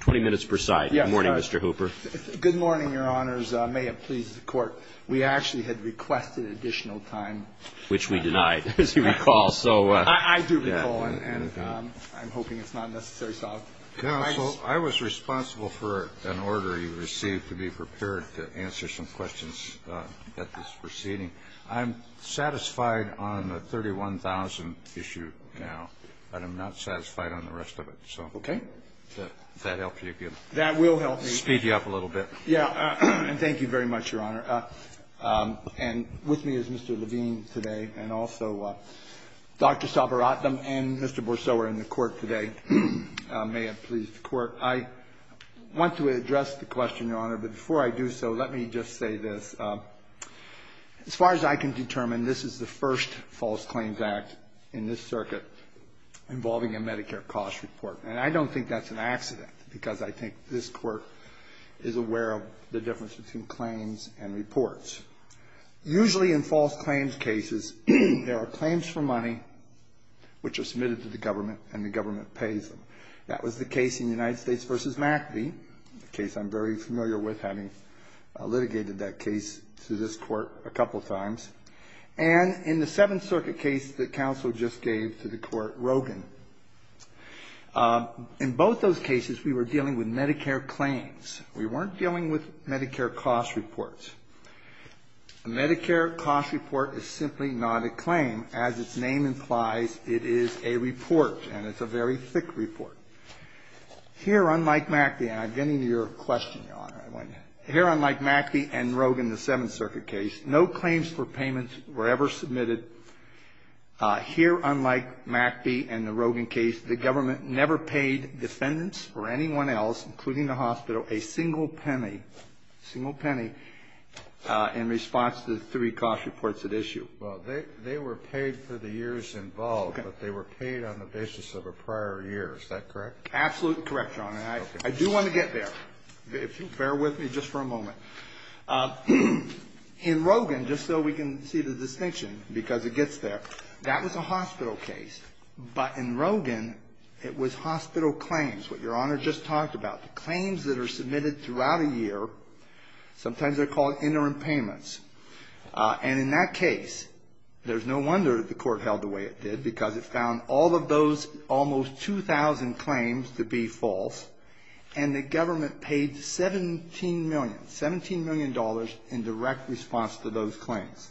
20 minutes per side. Good morning, Mr. Hooper. Good morning, Your Honors. May it please the Court, we actually had requested additional time. Which we denied, as you recall. I do recall, and I'm hoping it's not necessarily solved. Counsel, I was responsible for an order you received to be prepared to answer some questions at this proceeding. I'm satisfied on the 31,000 issue now, but I'm not satisfied on the rest of it. Okay. That will help you. Speed you up a little bit. Yeah, and thank you very much, Your Honor. And with me is Mr. Levine today, and also Dr. Sabaratham and Mr. Bourseau are in the Court today. May it please the Court. I want to address the question, Your Honor, but before I do so, let me just say this. As far as I can determine, this is the first false claims act in this circuit involving a Medicare cost report. And I don't think that's an accident, because I think this Court is aware of the difference between claims and reports. Usually in false claims cases, there are claims for money which are submitted to the government, and the government pays them. That was the case in United States v. McAfee, a case I'm very familiar with, having litigated that case to this Court a couple of times. And in the Seventh Circuit case that counsel just gave to the Court, Rogin. In both those cases, we were dealing with Medicare claims. We weren't dealing with Medicare cost reports. A Medicare cost report is simply not a claim. As its name implies, it is a report, and it's a very thick report. Here, unlike McAfee, and I'm getting to your question, Your Honor. Here, unlike McAfee and Rogin, the Seventh Circuit case, no claims for payments were ever submitted. Here, unlike McAfee and the Rogin case, the government never paid defendants or anyone else, including the hospital, a single penny, single penny, in response to the three cost reports at issue. Well, they were paid for the years involved, but they were paid on the basis of a prior year. Is that correct? Absolutely correct, Your Honor. I do want to get there, if you'll bear with me just for a moment. In Rogin, just so we can see the distinction, because it gets there, that was a hospital case. But in Rogin, it was hospital claims, what Your Honor just talked about. The claims that are submitted throughout a year, sometimes they're called interim payments. And in that case, there's no wonder the court held the way it did, because it found all of those almost 2,000 claims to be false, and the government paid 17 million, $17 million in direct response to those claims.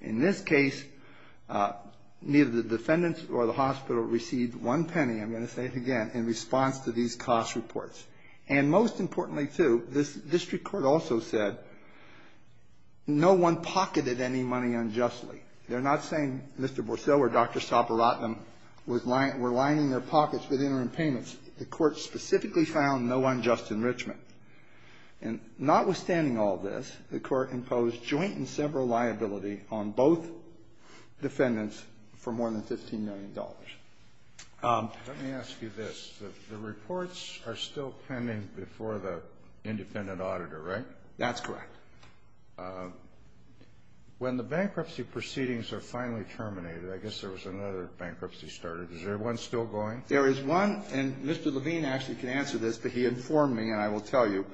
In this case, neither the defendants or the hospital received one penny, I'm going to say it again, in response to these cost reports. And most importantly, too, this district court also said no one pocketed any money unjustly. They're not saying Mr. Bourseau or Dr. Soperatnam were lining their pockets with interim payments. The court specifically found no unjust enrichment. And notwithstanding all this, the court imposed joint and several liability on both defendants for more than $15 million. Kennedy. Let me ask you this. The reports are still pending before the independent auditor, right? That's correct. When the bankruptcy proceedings are finally terminated, I guess there was another bankruptcy started. Is there one still going? There is one, and Mr. Levine actually can answer this, but he informed me, and I will tell you.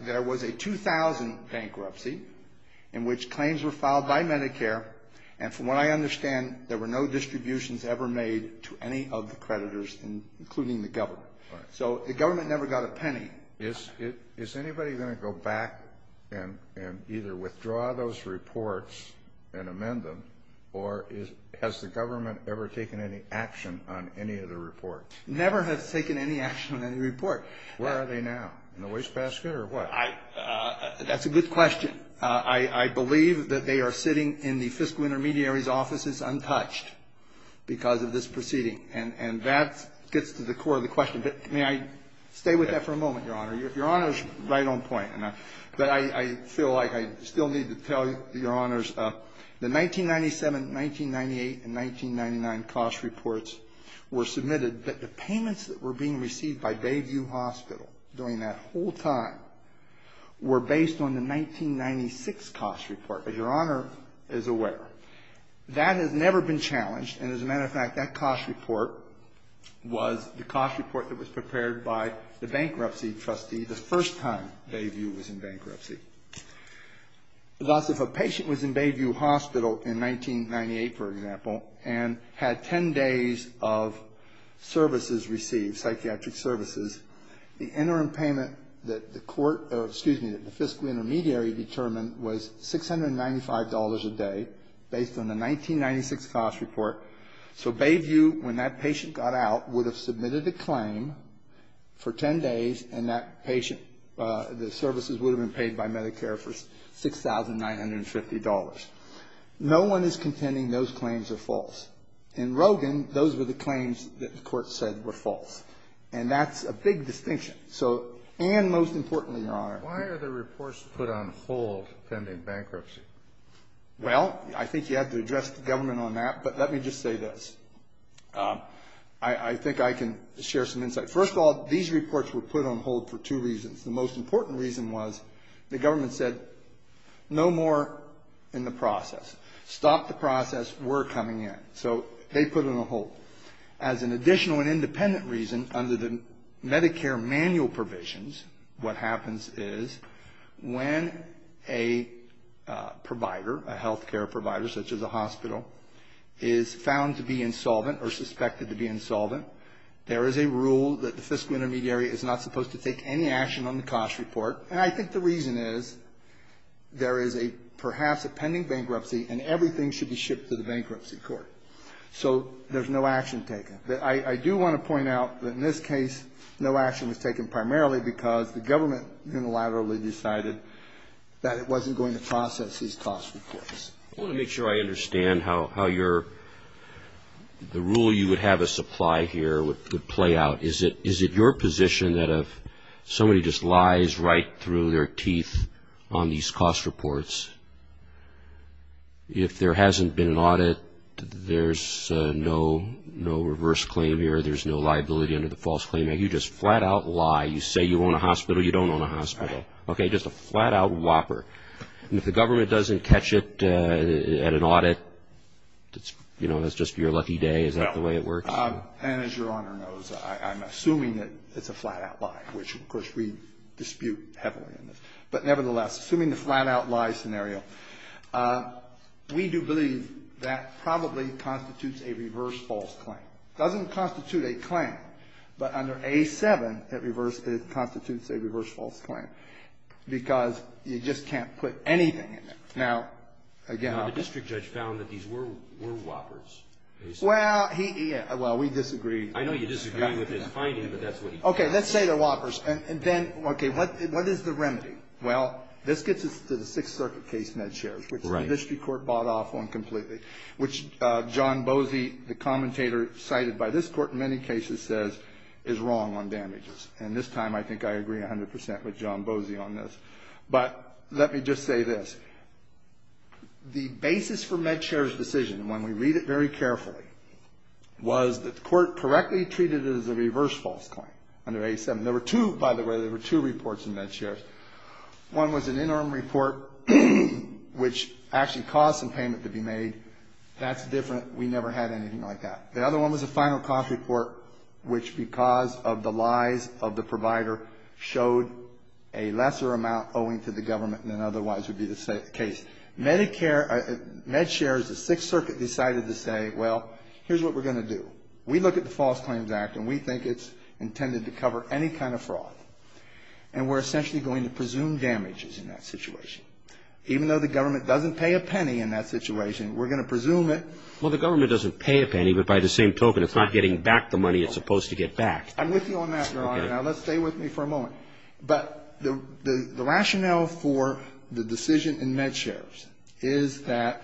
There was a 2000 bankruptcy in which claims were filed by Medicare, and from what I understand, there were no distributions ever made to any of the creditors, including the government. So the government never got a penny. Is anybody going to go back and either withdraw those reports and amend them, or has the government ever taken any action on any of the reports? Never have taken any action on any report. Where are they now? In the wastebasket or what? That's a good question. I believe that they are sitting in the fiscal intermediary's offices untouched because of this proceeding, and that gets to the core of the question. May I stay with that for a moment, Your Honor? Your Honor is right on point. But I feel like I still need to tell Your Honors, the 1997, 1998, and 1999 cost reports were submitted, but the payments that were being received by Bayview Hospital during that whole time were based on the 1996 cost report, as Your Honor is aware. That has never been challenged. And as a matter of fact, that cost report was the cost report that was prepared by the bankruptcy trustee the first time Bayview was in bankruptcy. Thus, if a patient was in Bayview Hospital in 1998, for example, and had ten days of services received, psychiatric services, the interim payment that the court or, excuse me, that the fiscal intermediary determined was $695 a day based on the 1996 cost report. So Bayview, when that patient got out, would have submitted a claim for ten days, and that patient, the services would have been paid by Medicare for $6,950. No one is contending those claims are false. In Rogin, those were the claims that the court said were false. And that's a big distinction. So, and most importantly, Your Honor. Why are the reports put on hold pending bankruptcy? Well, I think you have to address the government on that, but let me just say this. I think I can share some insight. First of all, these reports were put on hold for two reasons. The most important reason was the government said no more in the process. Stop the process. We're coming in. So they put them on hold. As an additional and independent reason, under the Medicare manual provisions, what happens is when a provider, a health care provider such as a hospital, is found to be insolvent or suspected to be insolvent, there is a rule that the fiscal intermediary is not supposed to take any action on the cost report. And I think the reason is there is perhaps a pending bankruptcy, and everything should be shipped to the bankruptcy court. So there's no action taken. I do want to point out that in this case, no action was taken primarily because the government unilaterally decided that it wasn't going to process these cost reports. I want to make sure I understand how your, the rule you would have us apply here would play out. Is it your position that if somebody just lies right through their teeth on these cost reports, if there hasn't been an audit, there's no reverse claim here, there's no liability under the false claim? You just flat-out lie. You say you own a hospital. You don't own a hospital. Okay? Just a flat-out whopper. And if the government doesn't catch it at an audit, you know, that's just your lucky day. Is that the way it works? No. And as Your Honor knows, I'm assuming that it's a flat-out lie, which, of course, we dispute heavily. But nevertheless, assuming the flat-out lie scenario, we do believe that probably constitutes a reverse false claim. It doesn't constitute a claim. But under A-7, it constitutes a reverse false claim because you just can't put anything in there. Now, again, I'll – The district judge found that these were whoppers. Well, he – well, we disagree. I know you disagree with his finding, but that's what he – Okay. Let's say they're whoppers. And then, okay, what is the remedy? Well, this gets us to the Sixth Circuit case, MedShares, which the district court bought off on completely, which John Boese, the commentator cited by this court in many cases, says is wrong on damages. And this time, I think I agree 100 percent with John Boese on this. But let me just say this. The basis for MedShare's decision, and when we read it very carefully, was that the court correctly treated it as a reverse false claim under A-7. There were two, by the way, there were two reports in MedShares. One was an interim report which actually caused some payment to be made. That's different. We never had anything like that. The other one was a final cost report which, because of the lies of the provider, showed a lesser amount owing to the government than otherwise would be the case. MedShares, the Sixth Circuit decided to say, well, here's what we're going to do. We look at the False Claims Act, and we think it's intended to cover any kind of fraud. And we're essentially going to presume damages in that situation. Even though the government doesn't pay a penny in that situation, we're going to presume it. Well, the government doesn't pay a penny, but by the same token, it's not getting back the money it's supposed to get back. I'm with you on that, Your Honor. Okay. Now, let's stay with me for a moment. But the rationale for the decision in MedShares is that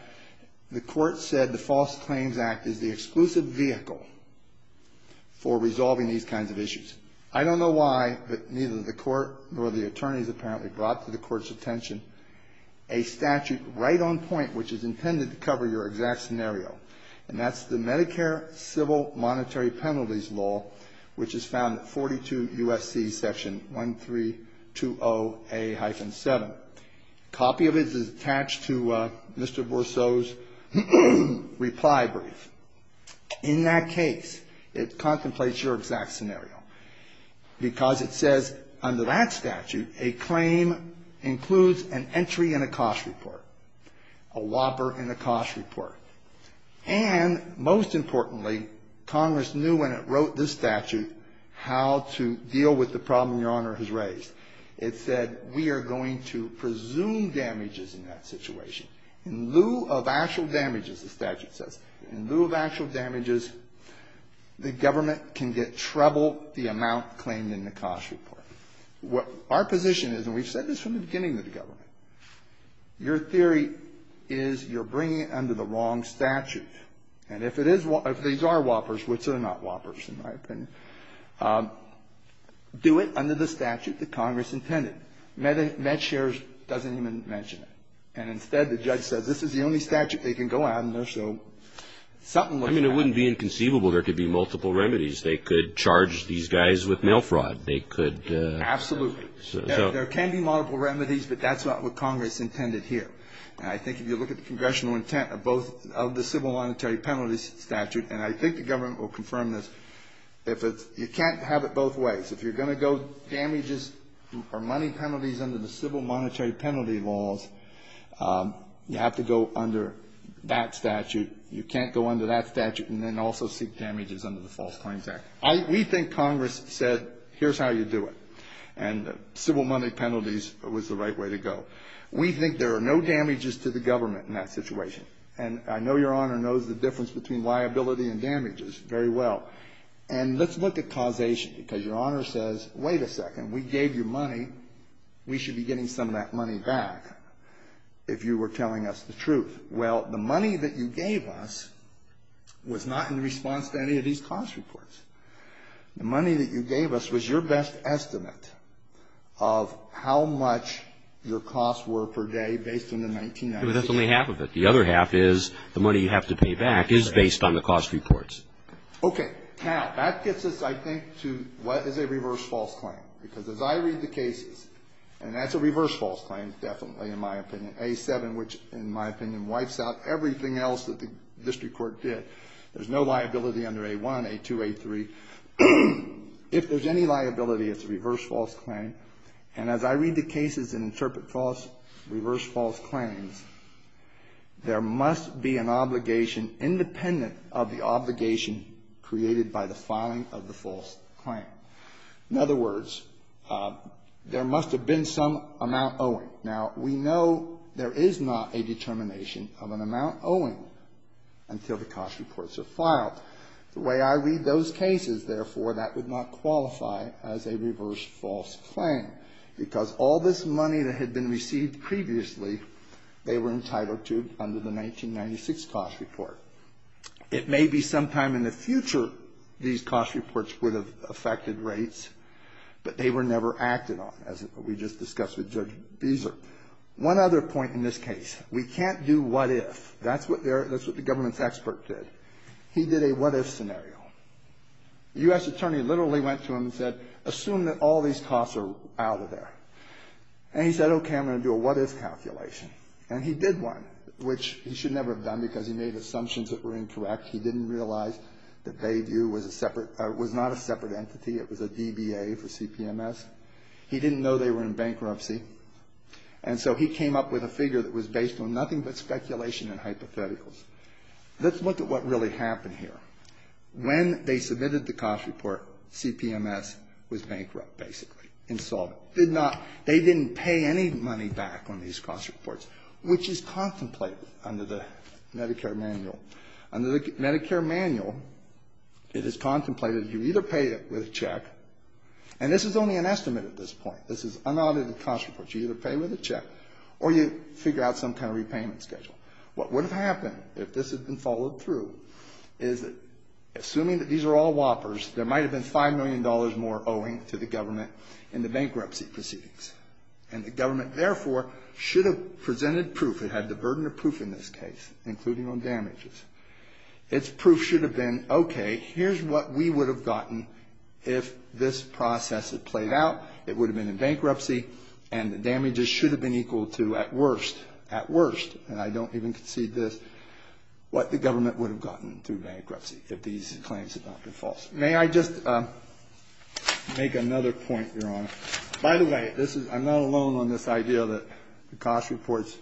the court said the False Claims Act is the exclusive vehicle for resolving these kinds of issues. I don't know why, but neither the court nor the attorneys apparently brought to the court's attention a statute right on point which is intended to cover your exact scenario. And that's the Medicare Civil Monetary Penalties Law, which is found at 42 U.S.C. Section 1320A-7. A copy of it is attached to Mr. Bourceau's reply brief. In that case, it contemplates your exact scenario, because it says under that statute, a claim includes an entry in a cost report, a whopper in a cost report. And most importantly, Congress knew when it wrote this statute how to deal with the problem Your Honor has raised. It said we are going to presume damages in that situation. In lieu of actual damages, the statute says, in lieu of actual damages, the government can get treble the amount claimed in the cost report. Our position is, and we've said this from the beginning of the government, your theory is you're bringing it under the wrong statute. And if it is one, if these are whoppers, which are not whoppers in my opinion, do it under the statute that Congress intended. MedShares doesn't even mention it. And instead, the judge says this is the only statute they can go out, and there's no something like that. I mean, it wouldn't be inconceivable there could be multiple remedies. They could charge these guys with mail fraud. They could Absolutely. There can be multiple remedies, but that's not what Congress intended here. I think if you look at the congressional intent of both of the civil monetary penalties statute, and I think the government will confirm this, you can't have it both ways. If you're going to go damages or money penalties under the civil monetary penalty laws, you have to go under that statute. You can't go under that statute and then also seek damages under the False Claims Act. We think Congress said, here's how you do it. And civil monetary penalties was the right way to go. We think there are no damages to the government in that situation. And I know Your Honor knows the difference between liability and damages very well. And let's look at causation, because Your Honor says, wait a second, we gave you money. We should be getting some of that money back if you were telling us the truth. Well, the money that you gave us was not in response to any of these cost reports. The money that you gave us was your best estimate of how much your costs were per day based on the 1990s. That's only half of it. The other half is the money you have to pay back is based on the cost reports. Okay. Now, that gets us, I think, to what is a reverse false claim. Because as I read the cases, and that's a reverse false claim definitely in my opinion. A-7, which in my opinion, wipes out everything else that the district court did. There's no liability under A-1, A-2, A-3. If there's any liability, it's a reverse false claim. And as I read the cases and interpret reverse false claims, there must be an obligation independent of the obligation created by the filing of the false claim. In other words, there must have been some amount owing. Now, we know there is not a determination of an amount owing until the cost reports are filed. The way I read those cases, therefore, that would not qualify as a reverse false claim. Because all this money that had been received previously, they were entitled to under the 1996 cost report. It may be sometime in the future these cost reports would have affected rates, but they were never acted on, as we just discussed with Judge Beezer. One other point in this case. We can't do what if. That's what the government's expert did. He did a what if scenario. The U.S. attorney literally went to him and said, assume that all these costs are out of there. And he said, okay, I'm going to do a what if calculation. And he did one, which he should never have done because he made assumptions that were incorrect. He didn't realize that Bayview was a separate or was not a separate entity. It was a DBA for CPMS. He didn't know they were in bankruptcy. And so he came up with a figure that was based on nothing but speculation and hypotheticals. Let's look at what really happened here. When they submitted the cost report, CPMS was bankrupt, basically. Insolvent. Did not they didn't pay any money back on these cost reports, which is contemplated under the Medicare manual. Under the Medicare manual, it is contemplated you either pay it with a check. And this is only an estimate at this point. This is unaudited cost reports. You either pay with a check or you figure out some kind of repayment schedule. What would have happened if this had been followed through is that, assuming that these are all whoppers, there might have been $5 million more owing to the government in the bankruptcy proceedings. And the government, therefore, should have presented proof. It had the burden of proof in this case, including on damages. Its proof should have been, okay, here's what we would have gotten if this process had played out. It would have been in bankruptcy, and the damages should have been equal to, at worst, at worst, and I don't even concede this, what the government would have gotten through bankruptcy if these claims had not been false. May I just make another point, Your Honor? By the way, this is, I'm not alone on this idea that the cost reports,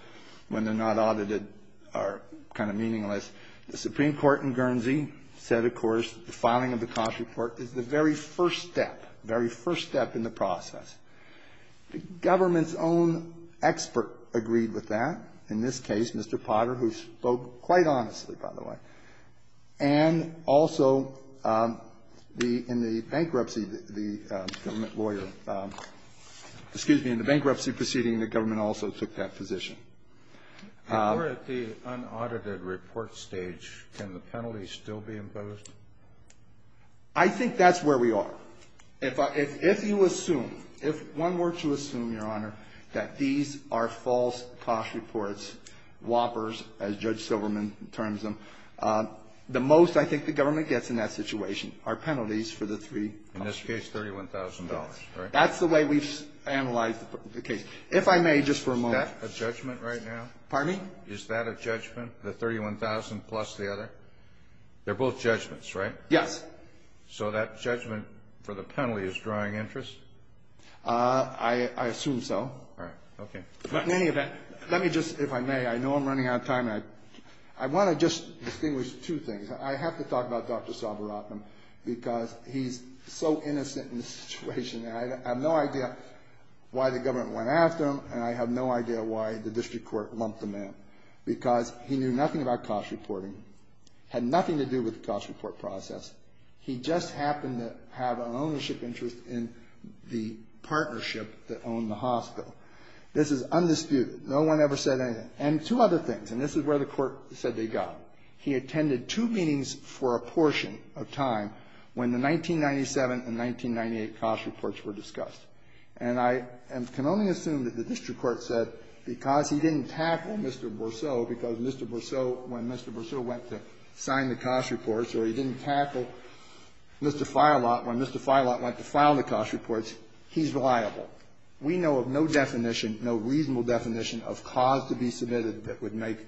when they're not audited, are kind of meaningless. The Supreme Court in Guernsey said, of course, the filing of the cost report is the very first step, very first step in the process. The government's own expert agreed with that. In this case, Mr. Potter, who spoke quite honestly, by the way. And also, in the bankruptcy, the government lawyer, excuse me, in the bankruptcy proceeding, the government also took that position. If we're at the unaudited report stage, can the penalty still be imposed? I think that's where we are. If you assume, if one were to assume, Your Honor, that these are false cost reports, whoppers, as Judge Silverman terms them, the most, I think, the government gets in that situation are penalties for the three companies. In this case, $31,000, right? That's the way we've analyzed the case. If I may, just for a moment. Is that a judgment right now? Pardon me? Is that a judgment, the $31,000 plus the other? They're both judgments, right? Yes. So that judgment for the penalty is drawing interest? I assume so. All right. Okay. But in any event, let me just, if I may, I know I'm running out of time. I want to just distinguish two things. I have to talk about Dr. Salveratnam because he's so innocent in this situation. I have no idea why the government went after him, and I have no idea why the district court lumped him in because he knew nothing about cost reporting, had nothing to do with the cost report process. He just happened to have an ownership interest in the partnership that owned the hospital. This is undisputed. No one ever said anything. And two other things, and this is where the Court said they got. He attended two meetings for a portion of time when the 1997 and 1998 cost reports were discussed. And I can only assume that the district court said because he didn't tackle Mr. Bourseau because Mr. Bourseau, when Mr. Bourseau went to sign the cost reports or he didn't tackle Mr. Feilat when Mr. Feilat went to file the cost reports, he's reliable. We know of no definition, no reasonable definition, of cause to be submitted that would make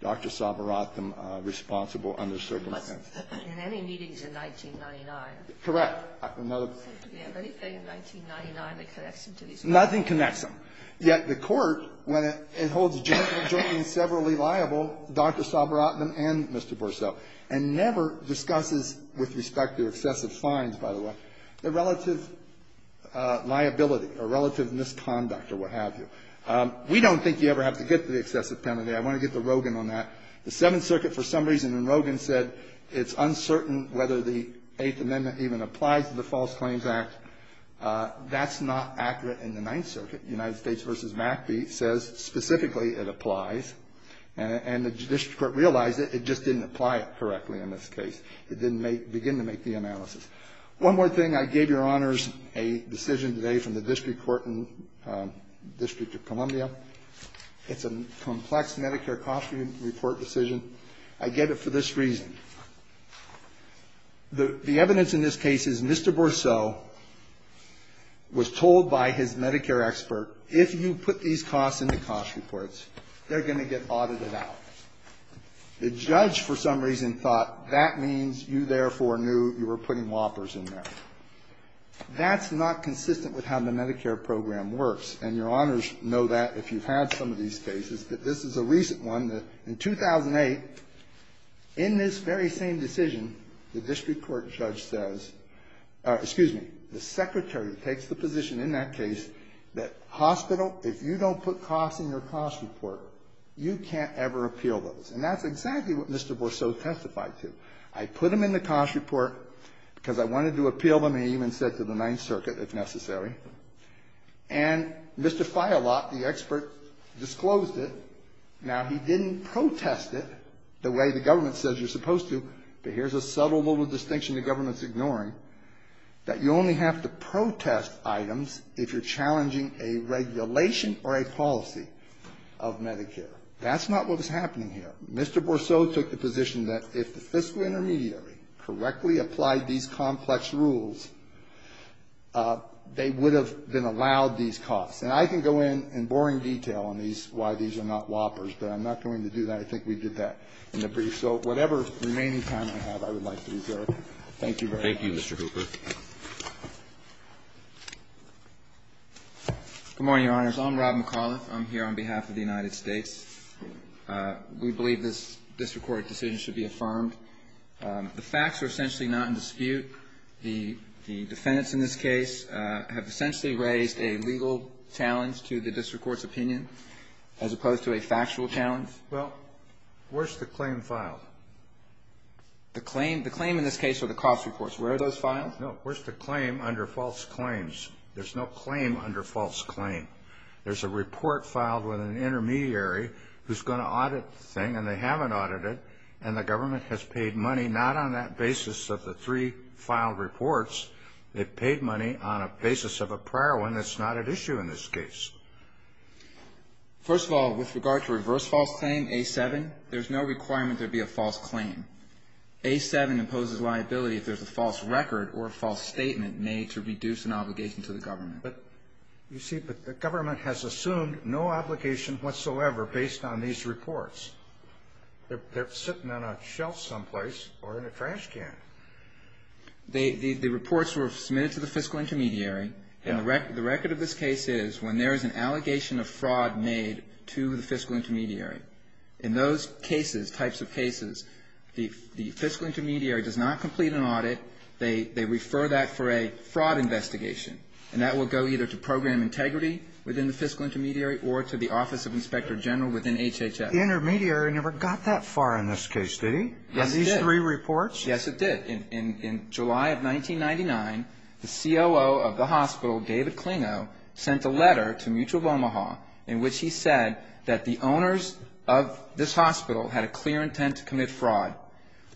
Dr. Salveratnam responsible under certain terms. And any meetings in 1999. Correct. Do we have anything in 1999 that connects him to these people? Nothing connects him. Yet the Court, when it holds generally liable Dr. Salveratnam and Mr. Bourseau and never discusses with respect to excessive fines, by the way, the relative liability or relative misconduct or what have you, we don't think you ever have to get to the excessive penalty. I want to get to Rogin on that. The Seventh Circuit for some reason in Rogin said it's uncertain whether the Eighth Amendment even applies to the False Claims Act. That's not accurate in the Ninth Circuit. United States v. McAfee says specifically it applies. And the district court realized it. It just didn't apply it correctly in this case. It didn't begin to make the analysis. One more thing. I gave Your Honors a decision today from the district court in District of Columbia. It's a complex Medicare cost report decision. I get it for this reason. The evidence in this case is Mr. Bourseau was told by his Medicare expert, if you put these costs in the cost reports, they're going to get audited out. The judge for some reason thought that means you therefore knew you were putting whoppers in there. That's not consistent with how the Medicare program works. And Your Honors know that if you've had some of these cases. But this is a recent one. In 2008, in this very same decision, the district court judge says or excuse me, the Secretary takes the position in that case that hospital, if you don't put costs in your cost report, you can't ever appeal those. And that's exactly what Mr. Bourseau testified to. I put them in the cost report because I wanted to appeal them. He even said to the Ninth Circuit, if necessary. And Mr. Feilach, the expert, disclosed it. Now, he didn't protest it the way the government says you're supposed to, but here's a subtle little distinction the government's ignoring, that you only have to protest items if you're challenging a regulation or a policy of Medicare. That's not what was happening here. Mr. Bourseau took the position that if the fiscal intermediary correctly applied these complex rules, they would have been allowed these costs. And I can go in in boring detail on these, why these are not whoppers, but I'm not going to do that. I think we did that in the brief. So whatever remaining time I have, I would like to reserve. Thank you very much. Thank you, Mr. Hooper. Good morning, Your Honors. I'm Rob McAuliffe. I'm here on behalf of the United States. We believe this district court decision should be affirmed. The facts are essentially not in dispute. The defendants in this case have essentially raised a legal challenge to the district court's opinion as opposed to a factual challenge. Well, where's the claim filed? The claim in this case are the cost reports. Where are those filed? No, where's the claim under false claims? There's no claim under false claim. There's a report filed with an intermediary who's going to audit the thing, and they haven't audited. And the government has paid money not on that basis of the three filed reports. They've paid money on a basis of a prior one that's not at issue in this case. First of all, with regard to reverse false claim, A-7, there's no requirement there be a false claim. A-7 imposes liability if there's a false record or a false statement made to reduce an obligation to the government. But, you see, the government has assumed no obligation whatsoever based on these reports. They're sitting on a shelf someplace or in a trash can. The reports were submitted to the fiscal intermediary. And the record of this case is when there is an allegation of fraud made to the fiscal intermediary, in those cases, types of cases, the fiscal intermediary does not complete an audit. They refer that for a fraud investigation. And that will go either to Program Integrity within the fiscal intermediary or to the Office of Inspector General within HHS. The intermediary never got that far in this case, did he? Yes, it did. Of these three reports? Yes, it did. In July of 1999, the COO of the hospital, David Klingo, sent a letter to Mutual of Omaha in which he said that the owners of this hospital had a clear intent to commit fraud.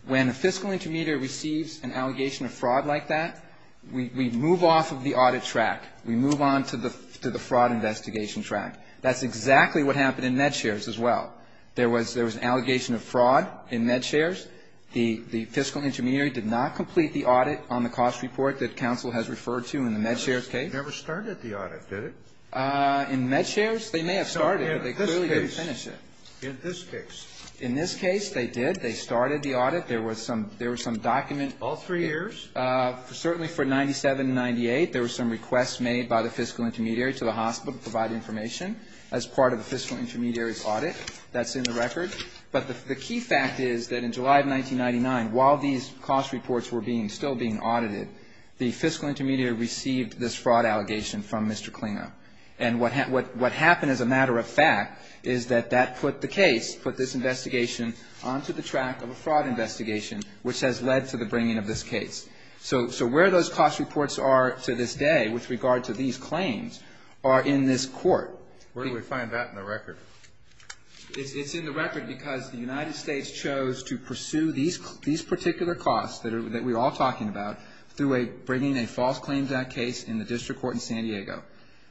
When a fiscal intermediary receives an allegation of fraud like that, we move off the audit track. We move on to the fraud investigation track. That's exactly what happened in MedShares as well. There was an allegation of fraud in MedShares. The fiscal intermediary did not complete the audit on the cost report that counsel has referred to in the MedShares case. It never started the audit, did it? In MedShares, they may have started it, but they clearly didn't finish it. In this case. In this case, they did. They started the audit. There was some document. All three years? Certainly for 97 and 98, there were some requests made by the fiscal intermediary to the hospital to provide information as part of the fiscal intermediary's audit. That's in the record. But the key fact is that in July of 1999, while these cost reports were being still being audited, the fiscal intermediary received this fraud allegation from Mr. Klingo. And what happened as a matter of fact is that that put the case, put this investigation onto the track of a fraud investigation, which has led to the case. So where those cost reports are to this day with regard to these claims are in this court. Where do we find that in the record? It's in the record because the United States chose to pursue these particular costs that we're all talking about through bringing a false claims act case in the district court in San Diego.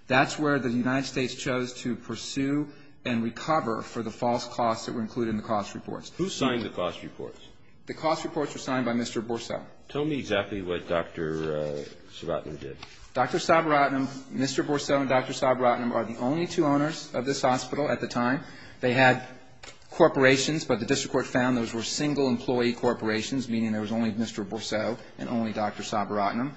That's where the United States chose to pursue and recover for the false costs that were included in the cost reports. Who signed the cost reports? The cost reports were signed by Mr. Borceau. Tell me exactly what Dr. Sabaratnam did. Dr. Sabaratnam, Mr. Borceau, and Dr. Sabaratnam are the only two owners of this hospital at the time. They had corporations, but the district court found those were single employee corporations, meaning there was only Mr. Borceau and only Dr. Sabaratnam.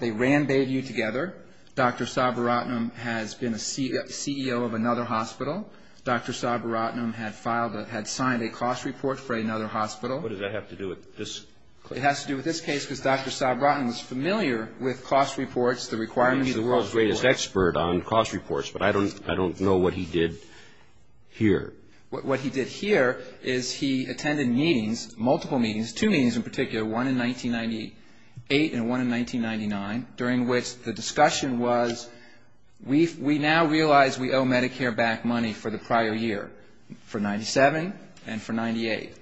They ran Bayview together. Dr. Sabaratnam has been a CEO of another hospital. Dr. Sabaratnam had signed a cost report for another hospital. What does that have to do with this case? It has to do with this case because Dr. Sabaratnam is familiar with cost reports, the requirements of the world's report. He's the world's greatest expert on cost reports, but I don't know what he did here. What he did here is he attended meetings, multiple meetings, two meetings in particular, one in 1998 and one in 1999, during which the discussion was we now realize we owe Medicare-backed money for the prior year, for 97 and for 98.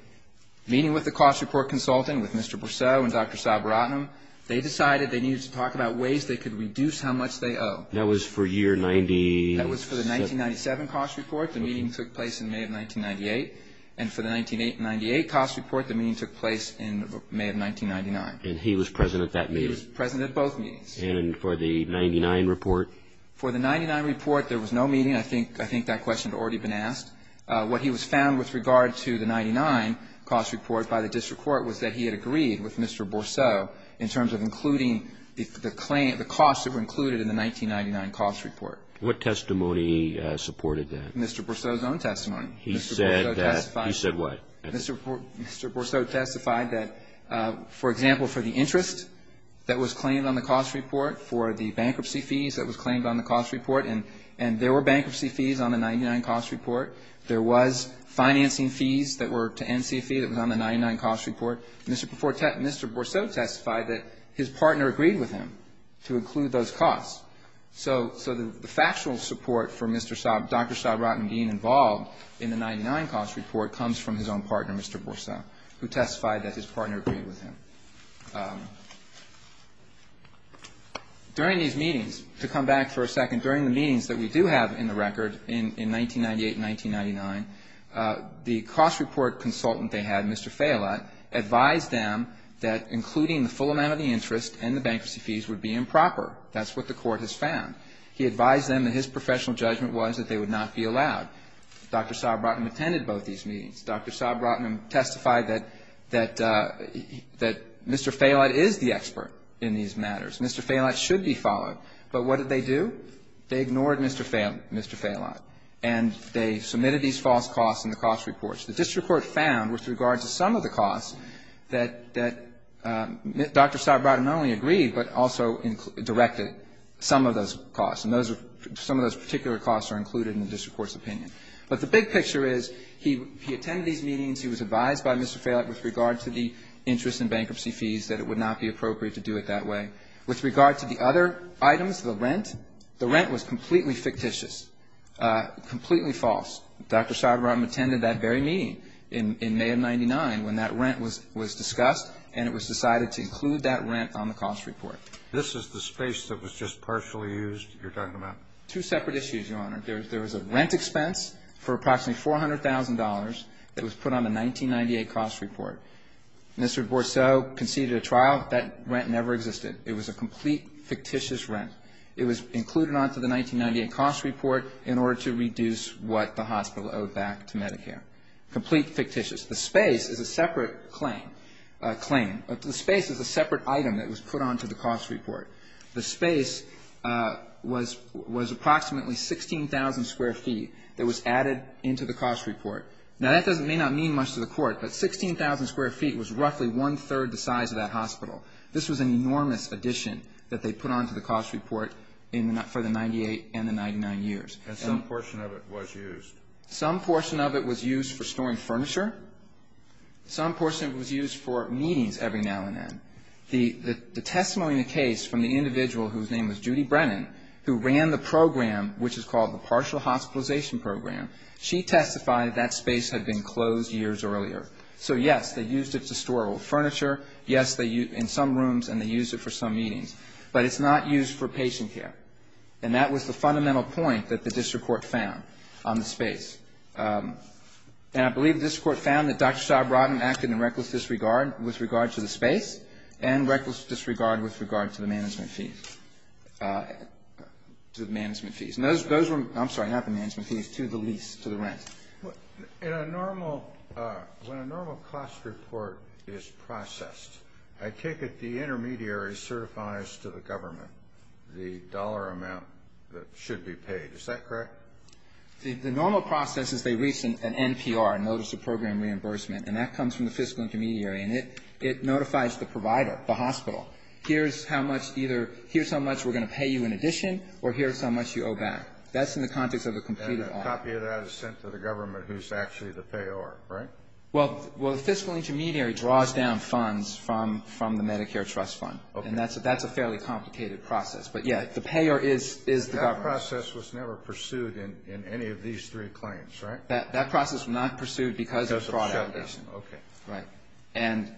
Meeting with the cost report consultant, with Mr. Borceau and Dr. Sabaratnam, they decided they needed to talk about ways they could reduce how much they owe. That was for year 97. That was for the 1997 cost report. The meeting took place in May of 1998. And for the 1998 cost report, the meeting took place in May of 1999. And he was present at that meeting. He was present at both meetings. And for the 99 report? For the 99 report, there was no meeting. I think that question had already been asked. What he was found with regard to the 99 cost report by the district court was that he had agreed with Mr. Borceau in terms of including the cost that were included in the 1999 cost report. What testimony supported that? Mr. Borceau's own testimony. He said that he said what? Mr. Borceau testified that, for example, for the interest that was claimed on the cost report, for the bankruptcy fees that was claimed on the cost report, and there were bankruptcy fees on the 99 cost report. There was financing fees that were to NCA fee that was on the 99 cost report. Mr. Borceau testified that his partner agreed with him to include those costs. So the factual support for Dr. Sabaratnam being involved in the 99 cost report comes from his own partner, Mr. Borceau, who testified that his partner agreed with him. During these meetings, to come back for a second, during the meetings that we do have in the record in 1998 and 1999, the cost report consultant they had, Mr. Fayolat, advised them that including the full amount of the interest and the bankruptcy fees would be improper. That's what the court has found. He advised them that his professional judgment was that they would not be allowed. Dr. Sabaratnam attended both these meetings. Dr. Sabaratnam testified that Mr. Fayolat is the expert in these matters. Mr. Fayolat should be followed. But what did they do? They ignored Mr. Fayolat, and they submitted these false costs in the cost reports. The district court found with regard to some of the costs that Dr. Sabaratnam not only agreed but also directed some of those costs, and some of those particular costs are included in the district court's opinion. But the big picture is he attended these meetings, he was advised by Mr. Fayolat with regard to the interest and bankruptcy fees that it would not be appropriate to do it that way. With regard to the other items, the rent, the rent was completely fictitious, completely false. Dr. Sabaratnam attended that very meeting in May of 1999 when that rent was discussed, and it was decided to include that rent on the cost report. This is the space that was just partially used you're talking about? Two separate issues, Your Honor. There was a rent expense for approximately $400,000 that was put on the 1998 cost report. Mr. Borceau conceded a trial. That rent never existed. It was a complete fictitious rent. It was included onto the 1998 cost report in order to reduce what the hospital owed back to Medicare. Complete fictitious. The space is a separate claim, claim. The space is a separate item that was put onto the cost report. The space was approximately 16,000 square feet that was added into the cost report. Now, that may not mean much to the Court, but 16,000 square feet was roughly one-third the size of that hospital. This was an enormous addition that they put onto the cost report for the 98 and the 99 years. And some portion of it was used. Some portion of it was used for storing furniture. Some portion of it was used for meetings every now and then. The testimony in the case from the individual whose name was Judy Brennan, who ran the program, which is called the Partial Hospitalization Program, she testified that that space had been closed years earlier. So, yes, they used it to store old furniture. Yes, in some rooms, and they used it for some meetings. But it's not used for patient care. And that was the fundamental point that the district court found on the space. And I believe this Court found that Dr. Saab Rotem acted in reckless disregard with regard to the space and reckless disregard with regard to the management fees. And those were, I'm sorry, not the management fees, to the lease, to the rent. In a normal, when a normal cost report is processed, I take it the intermediary certifies to the government the dollar amount that should be paid. Is that correct? The normal process is they reach an NPR, Notice of Program Reimbursement, and that comes from the fiscal intermediary, and it notifies the provider, the hospital, here's how much either, here's how much we're going to pay you in addition, or here's how much you owe back. That's in the context of a completed order. And a copy of that is sent to the government, who's actually the payer, right? Well, the fiscal intermediary draws down funds from the Medicare trust fund. Okay. And that's a fairly complicated process. But, yes, the payer is the government. That process was never pursued in any of these three claims, right? That process was not pursued because of fraud allegations. Okay. Right. And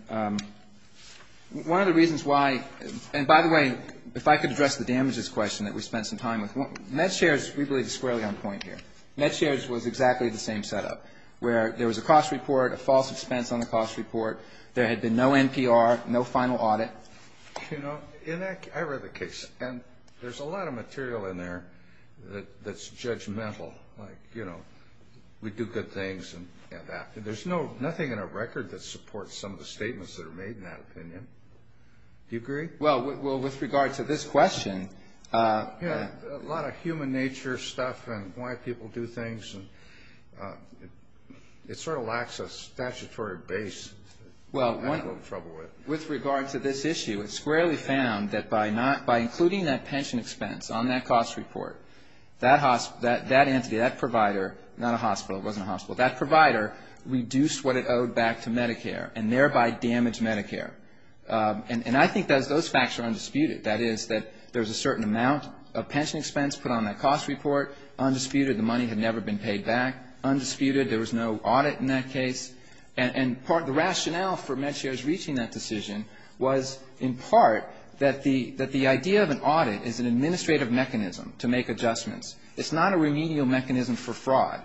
one of the reasons why, and by the way, if I could address the damages question that we spent some time with, MedShares, we believe, is squarely on point here. MedShares was exactly the same setup, where there was a cost report, a false expense on the cost report, there had been no NPR, no final audit. You know, I read the case, and there's a lot of material in there that's judgmental. Like, you know, we do good things and that. There's nothing in our record that supports some of the statements that are made in that opinion. Do you agree? Well, with regard to this question. Yeah, a lot of human nature stuff and why people do things. It sort of lacks a statutory base. Well, with regard to this issue. It's squarely found that by including that pension expense on that cost report, that entity, that provider, not a hospital, it wasn't a hospital, that provider reduced what it owed back to Medicare and thereby damaged Medicare. And I think those facts are undisputed. That is, that there's a certain amount of pension expense put on that cost report, undisputed. The money had never been paid back. Undisputed. There was no audit in that case. And part of the rationale for MedShare's reaching that decision was, in part, that the idea of an audit is an administrative mechanism to make adjustments. It's not a remedial mechanism for fraud,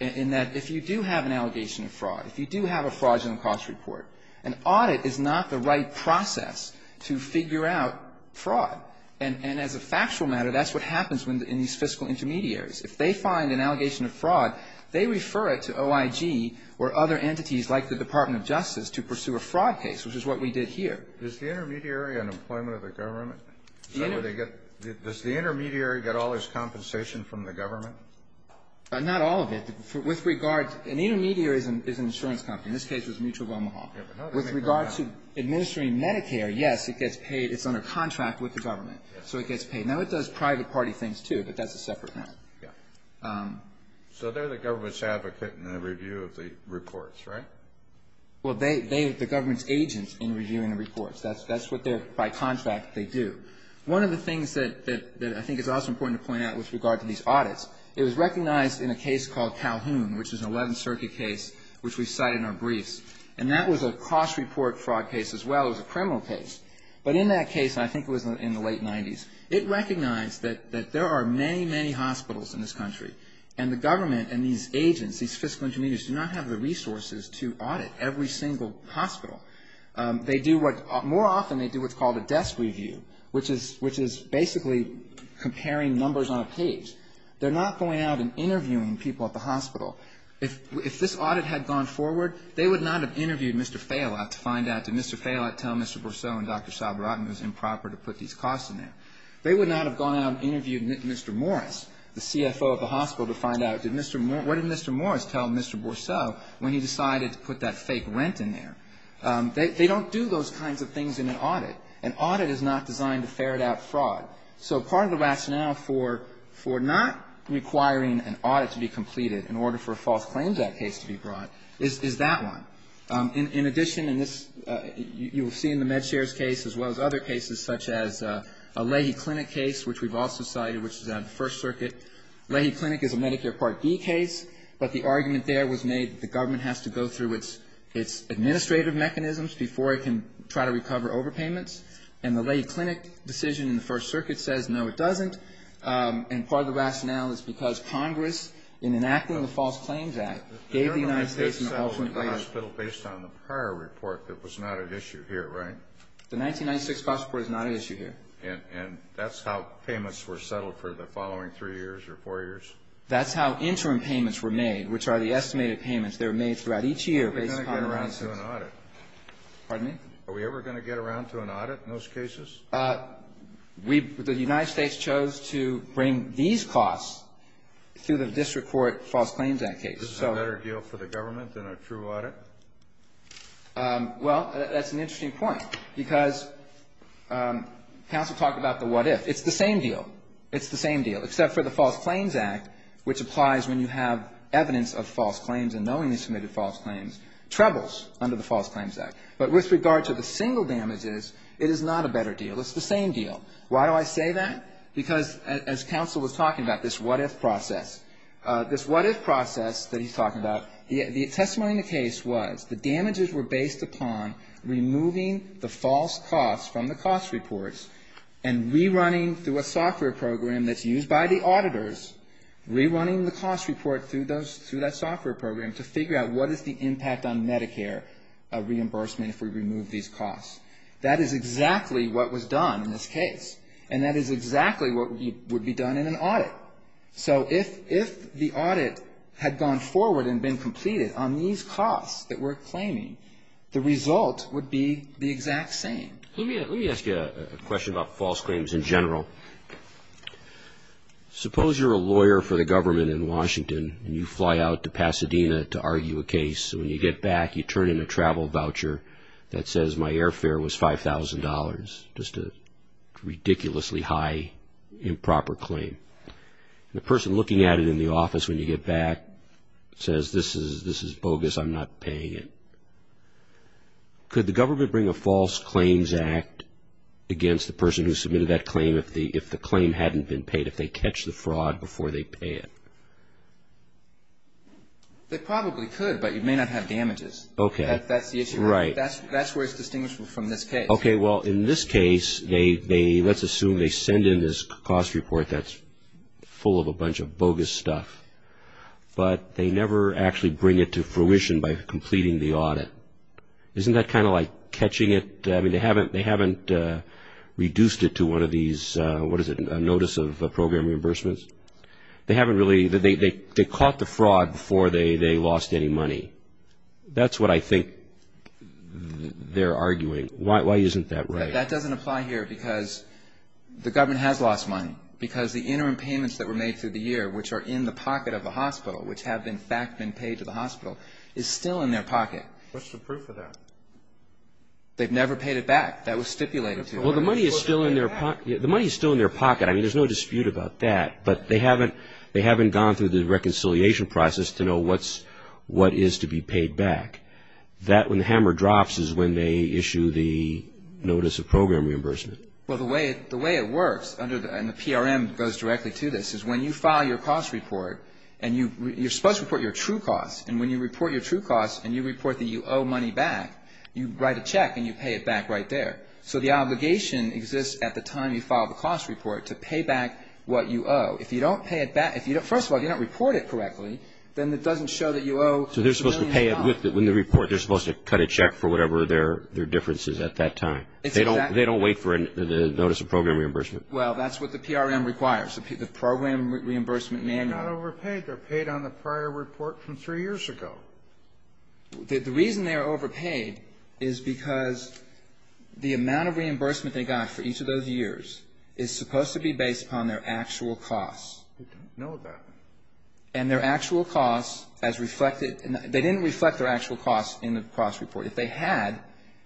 in that if you do have an allegation of fraud, if you do have a fraudulent cost report, an audit is not the right process to figure out fraud. And as a factual matter, that's what happens in these fiscal intermediaries. If they find an allegation of fraud, they refer it to OIG or other entities like the Department of Justice to pursue a fraud case, which is what we did here. Kennedy. Is the intermediary an employment of the government? Does the intermediary get all its compensation from the government? Not all of it. With regard to an intermediary is an insurance company. In this case, it was Mutual of Omaha. With regard to administering Medicare, yes, it gets paid. It's under contract with the government. So it gets paid. Now, it does private party things, too, but that's a separate matter. So they're the government's advocate in the review of the reports, right? Well, they're the government's agents in reviewing the reports. That's what they're, by contract, they do. One of the things that I think is also important to point out with regard to these audits, it was recognized in a case called Calhoun, which is an 11th Circuit case, which we cite in our briefs. And that was a cost report fraud case as well as a criminal case. But in that case, I think it was in the late 90s, it recognized that there are many, many hospitals in this country, and the government and these agents, these fiscal intermediaries, do not have the resources to audit every single hospital. They do what, more often, they do what's called a desk review, which is basically comparing numbers on a page. They're not going out and interviewing people at the hospital. If this audit had gone forward, they would not have interviewed Mr. Fayolat to find out, did Mr. Fayolat tell Mr. Bourceau and Dr. Saborotan it was improper to put these costs in there. They would not have gone out and interviewed Mr. Morris, the CFO of the hospital, to find out what did Mr. Morris tell Mr. Bourceau when he decided to put that fake rent in there. They don't do those kinds of things in an audit. An audit is not designed to ferret out fraud. So part of the rationale for not requiring an audit to be completed in order for a false claims act case to be brought is that one. In addition, in this, you will see in the MedShare's case, as well as other cases, such as a Leahy Clinic case, which we've also cited, which is out of the First Circuit. Leahy Clinic is a Medicare Part D case, but the argument there was made that the government has to go through its administrative mechanisms before it can try to recover overpayments. And the Leahy Clinic decision in the First Circuit says, no, it doesn't. And part of the rationale is because Congress, in enacting the False Claims Act, gave the United States an ultimate right of ---- The government had settled the hospital based on the prior report that was not at issue here, right? The 1996 cost report is not at issue here. And that's how payments were settled for the following three years or four years? That's how interim payments were made, which are the estimated payments that are made throughout each year based upon the ---- We're going to get around to an audit. Pardon me? Are we ever going to get around to an audit in those cases? We ---- the United States chose to bring these costs through the district court False Claims Act case. Is this a better deal for the government than a true audit? Well, that's an interesting point, because counsel talked about the what if. It's the same deal. It's the same deal, except for the False Claims Act, which applies when you have evidence of false claims and knowingly submitted false claims, trebles under the False Claims Act. But with regard to the single damages, it is not a better deal. It's the same deal. Why do I say that? Because as counsel was talking about this what if process, this what if process that he's talking about, the testimony in the case was the damages were based upon removing the false costs from the cost reports and rerunning through a software program that's used by the auditors, rerunning the cost report through that software program to figure out what is the impact on Medicare reimbursement if we remove these costs. That is exactly what was done in this case. So if the audit had gone forward and been completed on these costs that we're claiming, the result would be the exact same. Let me ask you a question about false claims in general. Suppose you're a lawyer for the government in Washington and you fly out to Pasadena to argue a case. When you get back, you turn in a travel voucher that says my airfare was $5,000, just a ridiculously high improper claim. The person looking at it in the office when you get back says this is bogus, I'm not paying it. Could the government bring a false claims act against the person who submitted that claim if the claim hadn't been paid, if they catch the fraud before they pay it? They probably could, but you may not have damages. That's the issue. Right. That's where it's distinguishable from this case. Okay. Well, in this case, let's assume they send in this cost report that's full of a bunch of bogus stuff, but they never actually bring it to fruition by completing the audit. Isn't that kind of like catching it? I mean, they haven't reduced it to one of these, what is it, notice of program reimbursements? They caught the fraud before they lost any money. That's what I think they're arguing. Why isn't that right? That doesn't apply here because the government has lost money, because the interim payments that were made through the year, which are in the pocket of the hospital, which have in fact been paid to the hospital, is still in their pocket. What's the proof of that? They've never paid it back. That was stipulated to them. Well, the money is still in their pocket. I mean, there's no dispute about that, but they haven't gone through the reconciliation process to know what is to be paid back. That, when the hammer drops, is when they issue the notice of program reimbursement. Well, the way it works, and the PRM goes directly to this, is when you file your cost report and you're supposed to report your true costs, and when you report your true costs and you report that you owe money back, you write a check and you pay it back right there. So the obligation exists at the time you file the cost report to pay back what you owe. If you don't pay it back, first of all, if you don't report it correctly, then it doesn't show that you owe a million dollars. So they're supposed to pay it with the report. They're supposed to cut a check for whatever their difference is at that time. They don't wait for the notice of program reimbursement. Well, that's what the PRM requires, the program reimbursement manual. They're not overpaid. They're paid on the prior report from three years ago. The reason they're overpaid is because the amount of reimbursement they got for each of those years is supposed to be based upon their actual costs. We don't know that. And their actual costs as reflected they didn't reflect their actual costs in the cost report. If they had,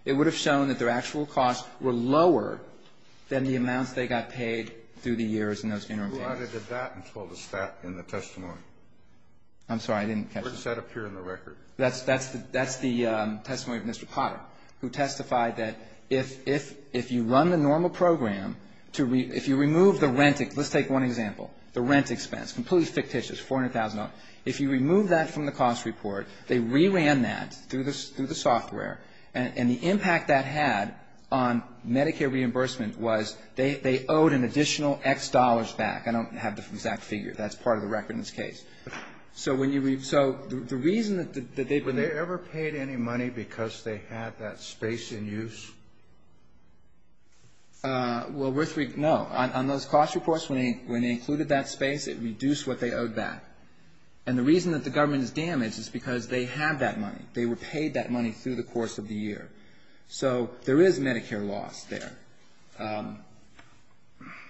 it would have shown that their actual costs were lower than the amounts they got paid through the years in those interim payments. Who added to that until the stat in the testimony? I'm sorry. I didn't catch that. It was set up here in the record. That's the testimony of Mr. Potter, who testified that if you run the normal program to, if you remove the rent, let's take one example, the rent expense, completely fictitious, $400,000. If you remove that from the cost report, they re-ran that through the software, and the impact that had on Medicare reimbursement was they owed an additional X dollars back. I don't have the exact figure. That's part of the record in this case. So when you, so the reason that they. Were they ever paid any money because they had that space in use? Well, no. On those cost reports, when they included that space, it reduced what they owed back. And the reason that the government is damaged is because they had that money. They were paid that money through the course of the year. So there is Medicare loss there.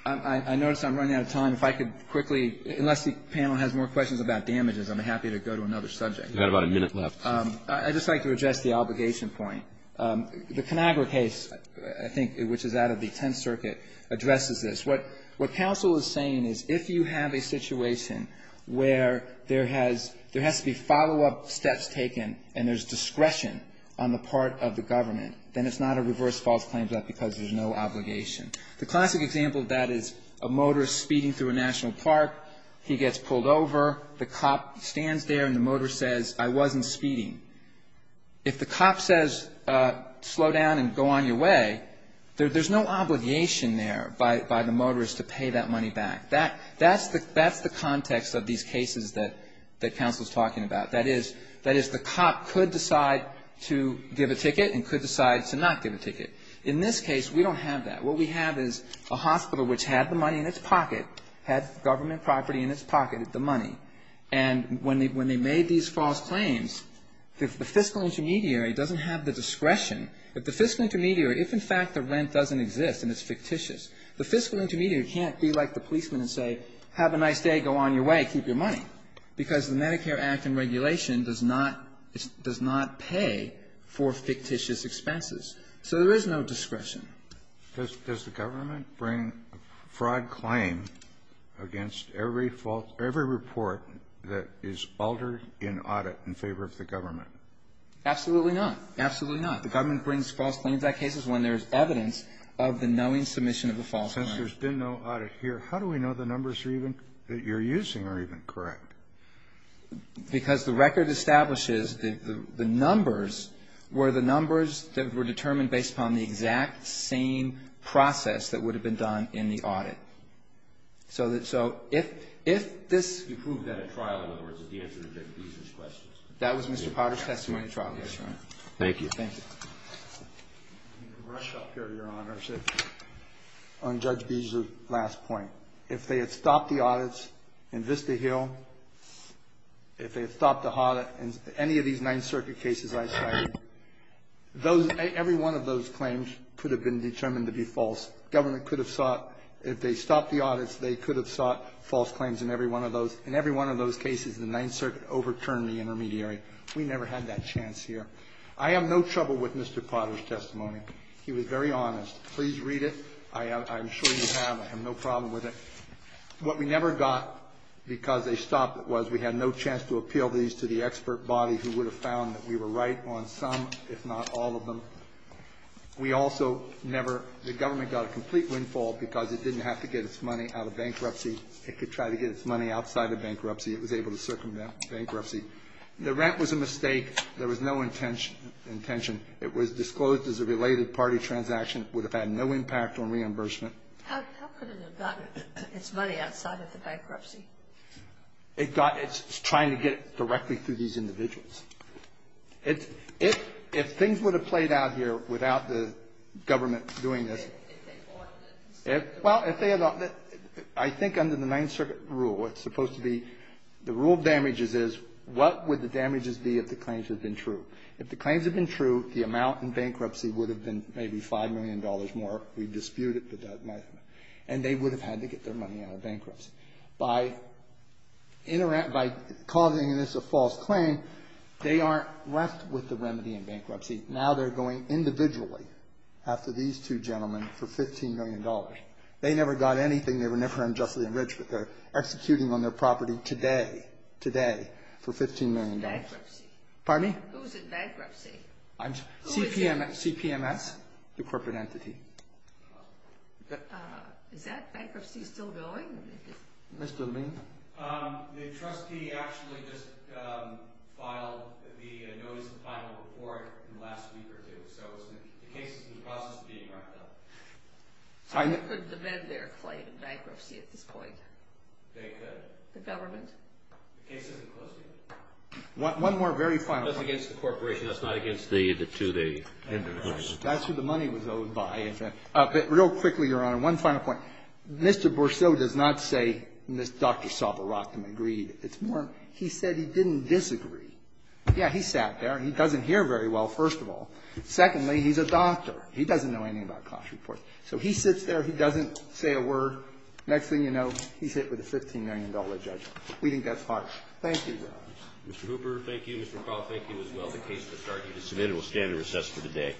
I notice I'm running out of time. If I could quickly, unless the panel has more questions about damages, I'm happy to go to another subject. We've got about a minute left. I'd just like to address the obligation point. The Conagra case, I think, which is out of the Tenth Circuit, addresses this. What counsel is saying is if you have a situation where there has to be follow-up steps taken and there's discretion on the part of the government, then it's not a reverse false claim because there's no obligation. The classic example of that is a motorist speeding through a national park. He gets pulled over. The cop stands there and the motorist says, I wasn't speeding. If the cop says, slow down and go on your way, there's no obligation there by the motorist to pay that money back. That's the context of these cases that counsel is talking about. That is, the cop could decide to give a ticket and could decide to not give a ticket. In this case, we don't have that. What we have is a hospital which had the money in its pocket, had government property in its pocket, the money, and when they made these false claims, the fiscal intermediary doesn't have the discretion. If the fiscal intermediary, if in fact the rent doesn't exist and it's fictitious, the fiscal intermediary can't be like the policeman and say, have a nice day, go on your way, keep your money, because the Medicare Act and regulation does not pay for fictitious expenses. So there is no discretion. Kennedy. Does the government bring a fraud claim against every report that is altered in audit in favor of the government? Absolutely not. Absolutely not. The government brings false claims on cases when there's evidence of the knowing submission of a false claim. Since there's been no audit here, how do we know the numbers are even, that you're using are even correct? Because the record establishes that the numbers were the numbers that were determined based upon the exact same process that would have been done in the audit. So if this you proved that at trial, in other words, is the answer to Judge Beeser's question. That was Mr. Potter's testimony at trial. Yes, Your Honor. Thank you. Thank you. Let me rush up here, Your Honor, on Judge Beeser's last point. If they had stopped the audits in Vista Hill, if they had stopped the audit in any of these nine-circuit cases I cited, those – every one of those claims could have been determined to be false. Government could have sought – if they stopped the audits, they could have sought false claims in every one of those. In every one of those cases, the Ninth Circuit overturned the intermediary. We never had that chance here. I have no trouble with Mr. Potter's testimony. He was very honest. Please read it. I am sure you have. I have no problem with it. What we never got because they stopped it was we had no chance to appeal these to the expert body who would have found that we were right on some, if not all of them. We also never – the government got a complete windfall because it didn't have to get its money out of bankruptcy. It could try to get its money outside of bankruptcy. It was able to circumvent bankruptcy. The rent was a mistake. There was no intention. It was disclosed as a related party transaction. It would have had no impact on reimbursement. How could it have gotten its money outside of the bankruptcy? It got – it's trying to get it directly through these individuals. It's – if things would have played out here without the government doing this If they ordered it. Well, if they – I think under the Ninth Circuit rule, what's supposed to be – the rule of damages is what would the damages be if the claims had been true. If the claims had been true, the amount in bankruptcy would have been maybe $5 million more. We dispute it, but that might have been. And they would have had to get their money out of bankruptcy. By causing this a false claim, they aren't left with the remedy in bankruptcy. Now they're going individually after these two gentlemen for $15 million. They never got anything. They were never unjustly enriched, but they're executing on their property today, today, for $15 million. Who's in bankruptcy? Pardon me? Who's in bankruptcy? I'm – Who is it? CPMS, the corporate entity. Is that bankruptcy still going? Mr. Lien? The trustee actually just filed the notice of final report in the last week or two. So the case is in the process of being wrapped up. So they could demand their claim in bankruptcy at this point? They could. The government? The case isn't closed yet. One more very final point. That's against the corporation. That's not against the two – That's who the money was owed by. But real quickly, Your Honor, one final point. Mr. Bourceau does not say, Mr. Dr. Sava Rockham agreed. It's more, he said he didn't disagree. Yeah, he sat there. He doesn't hear very well, first of all. Secondly, he's a doctor. He doesn't know anything about cost reports. So he sits there. He doesn't say a word. Next thing you know, he's hit with a $15 million judgment. We think that's harsh. Thank you, Your Honor. Mr. Hooper, thank you. Mr. McCall, thank you as well. This committee will stand in recess for the day.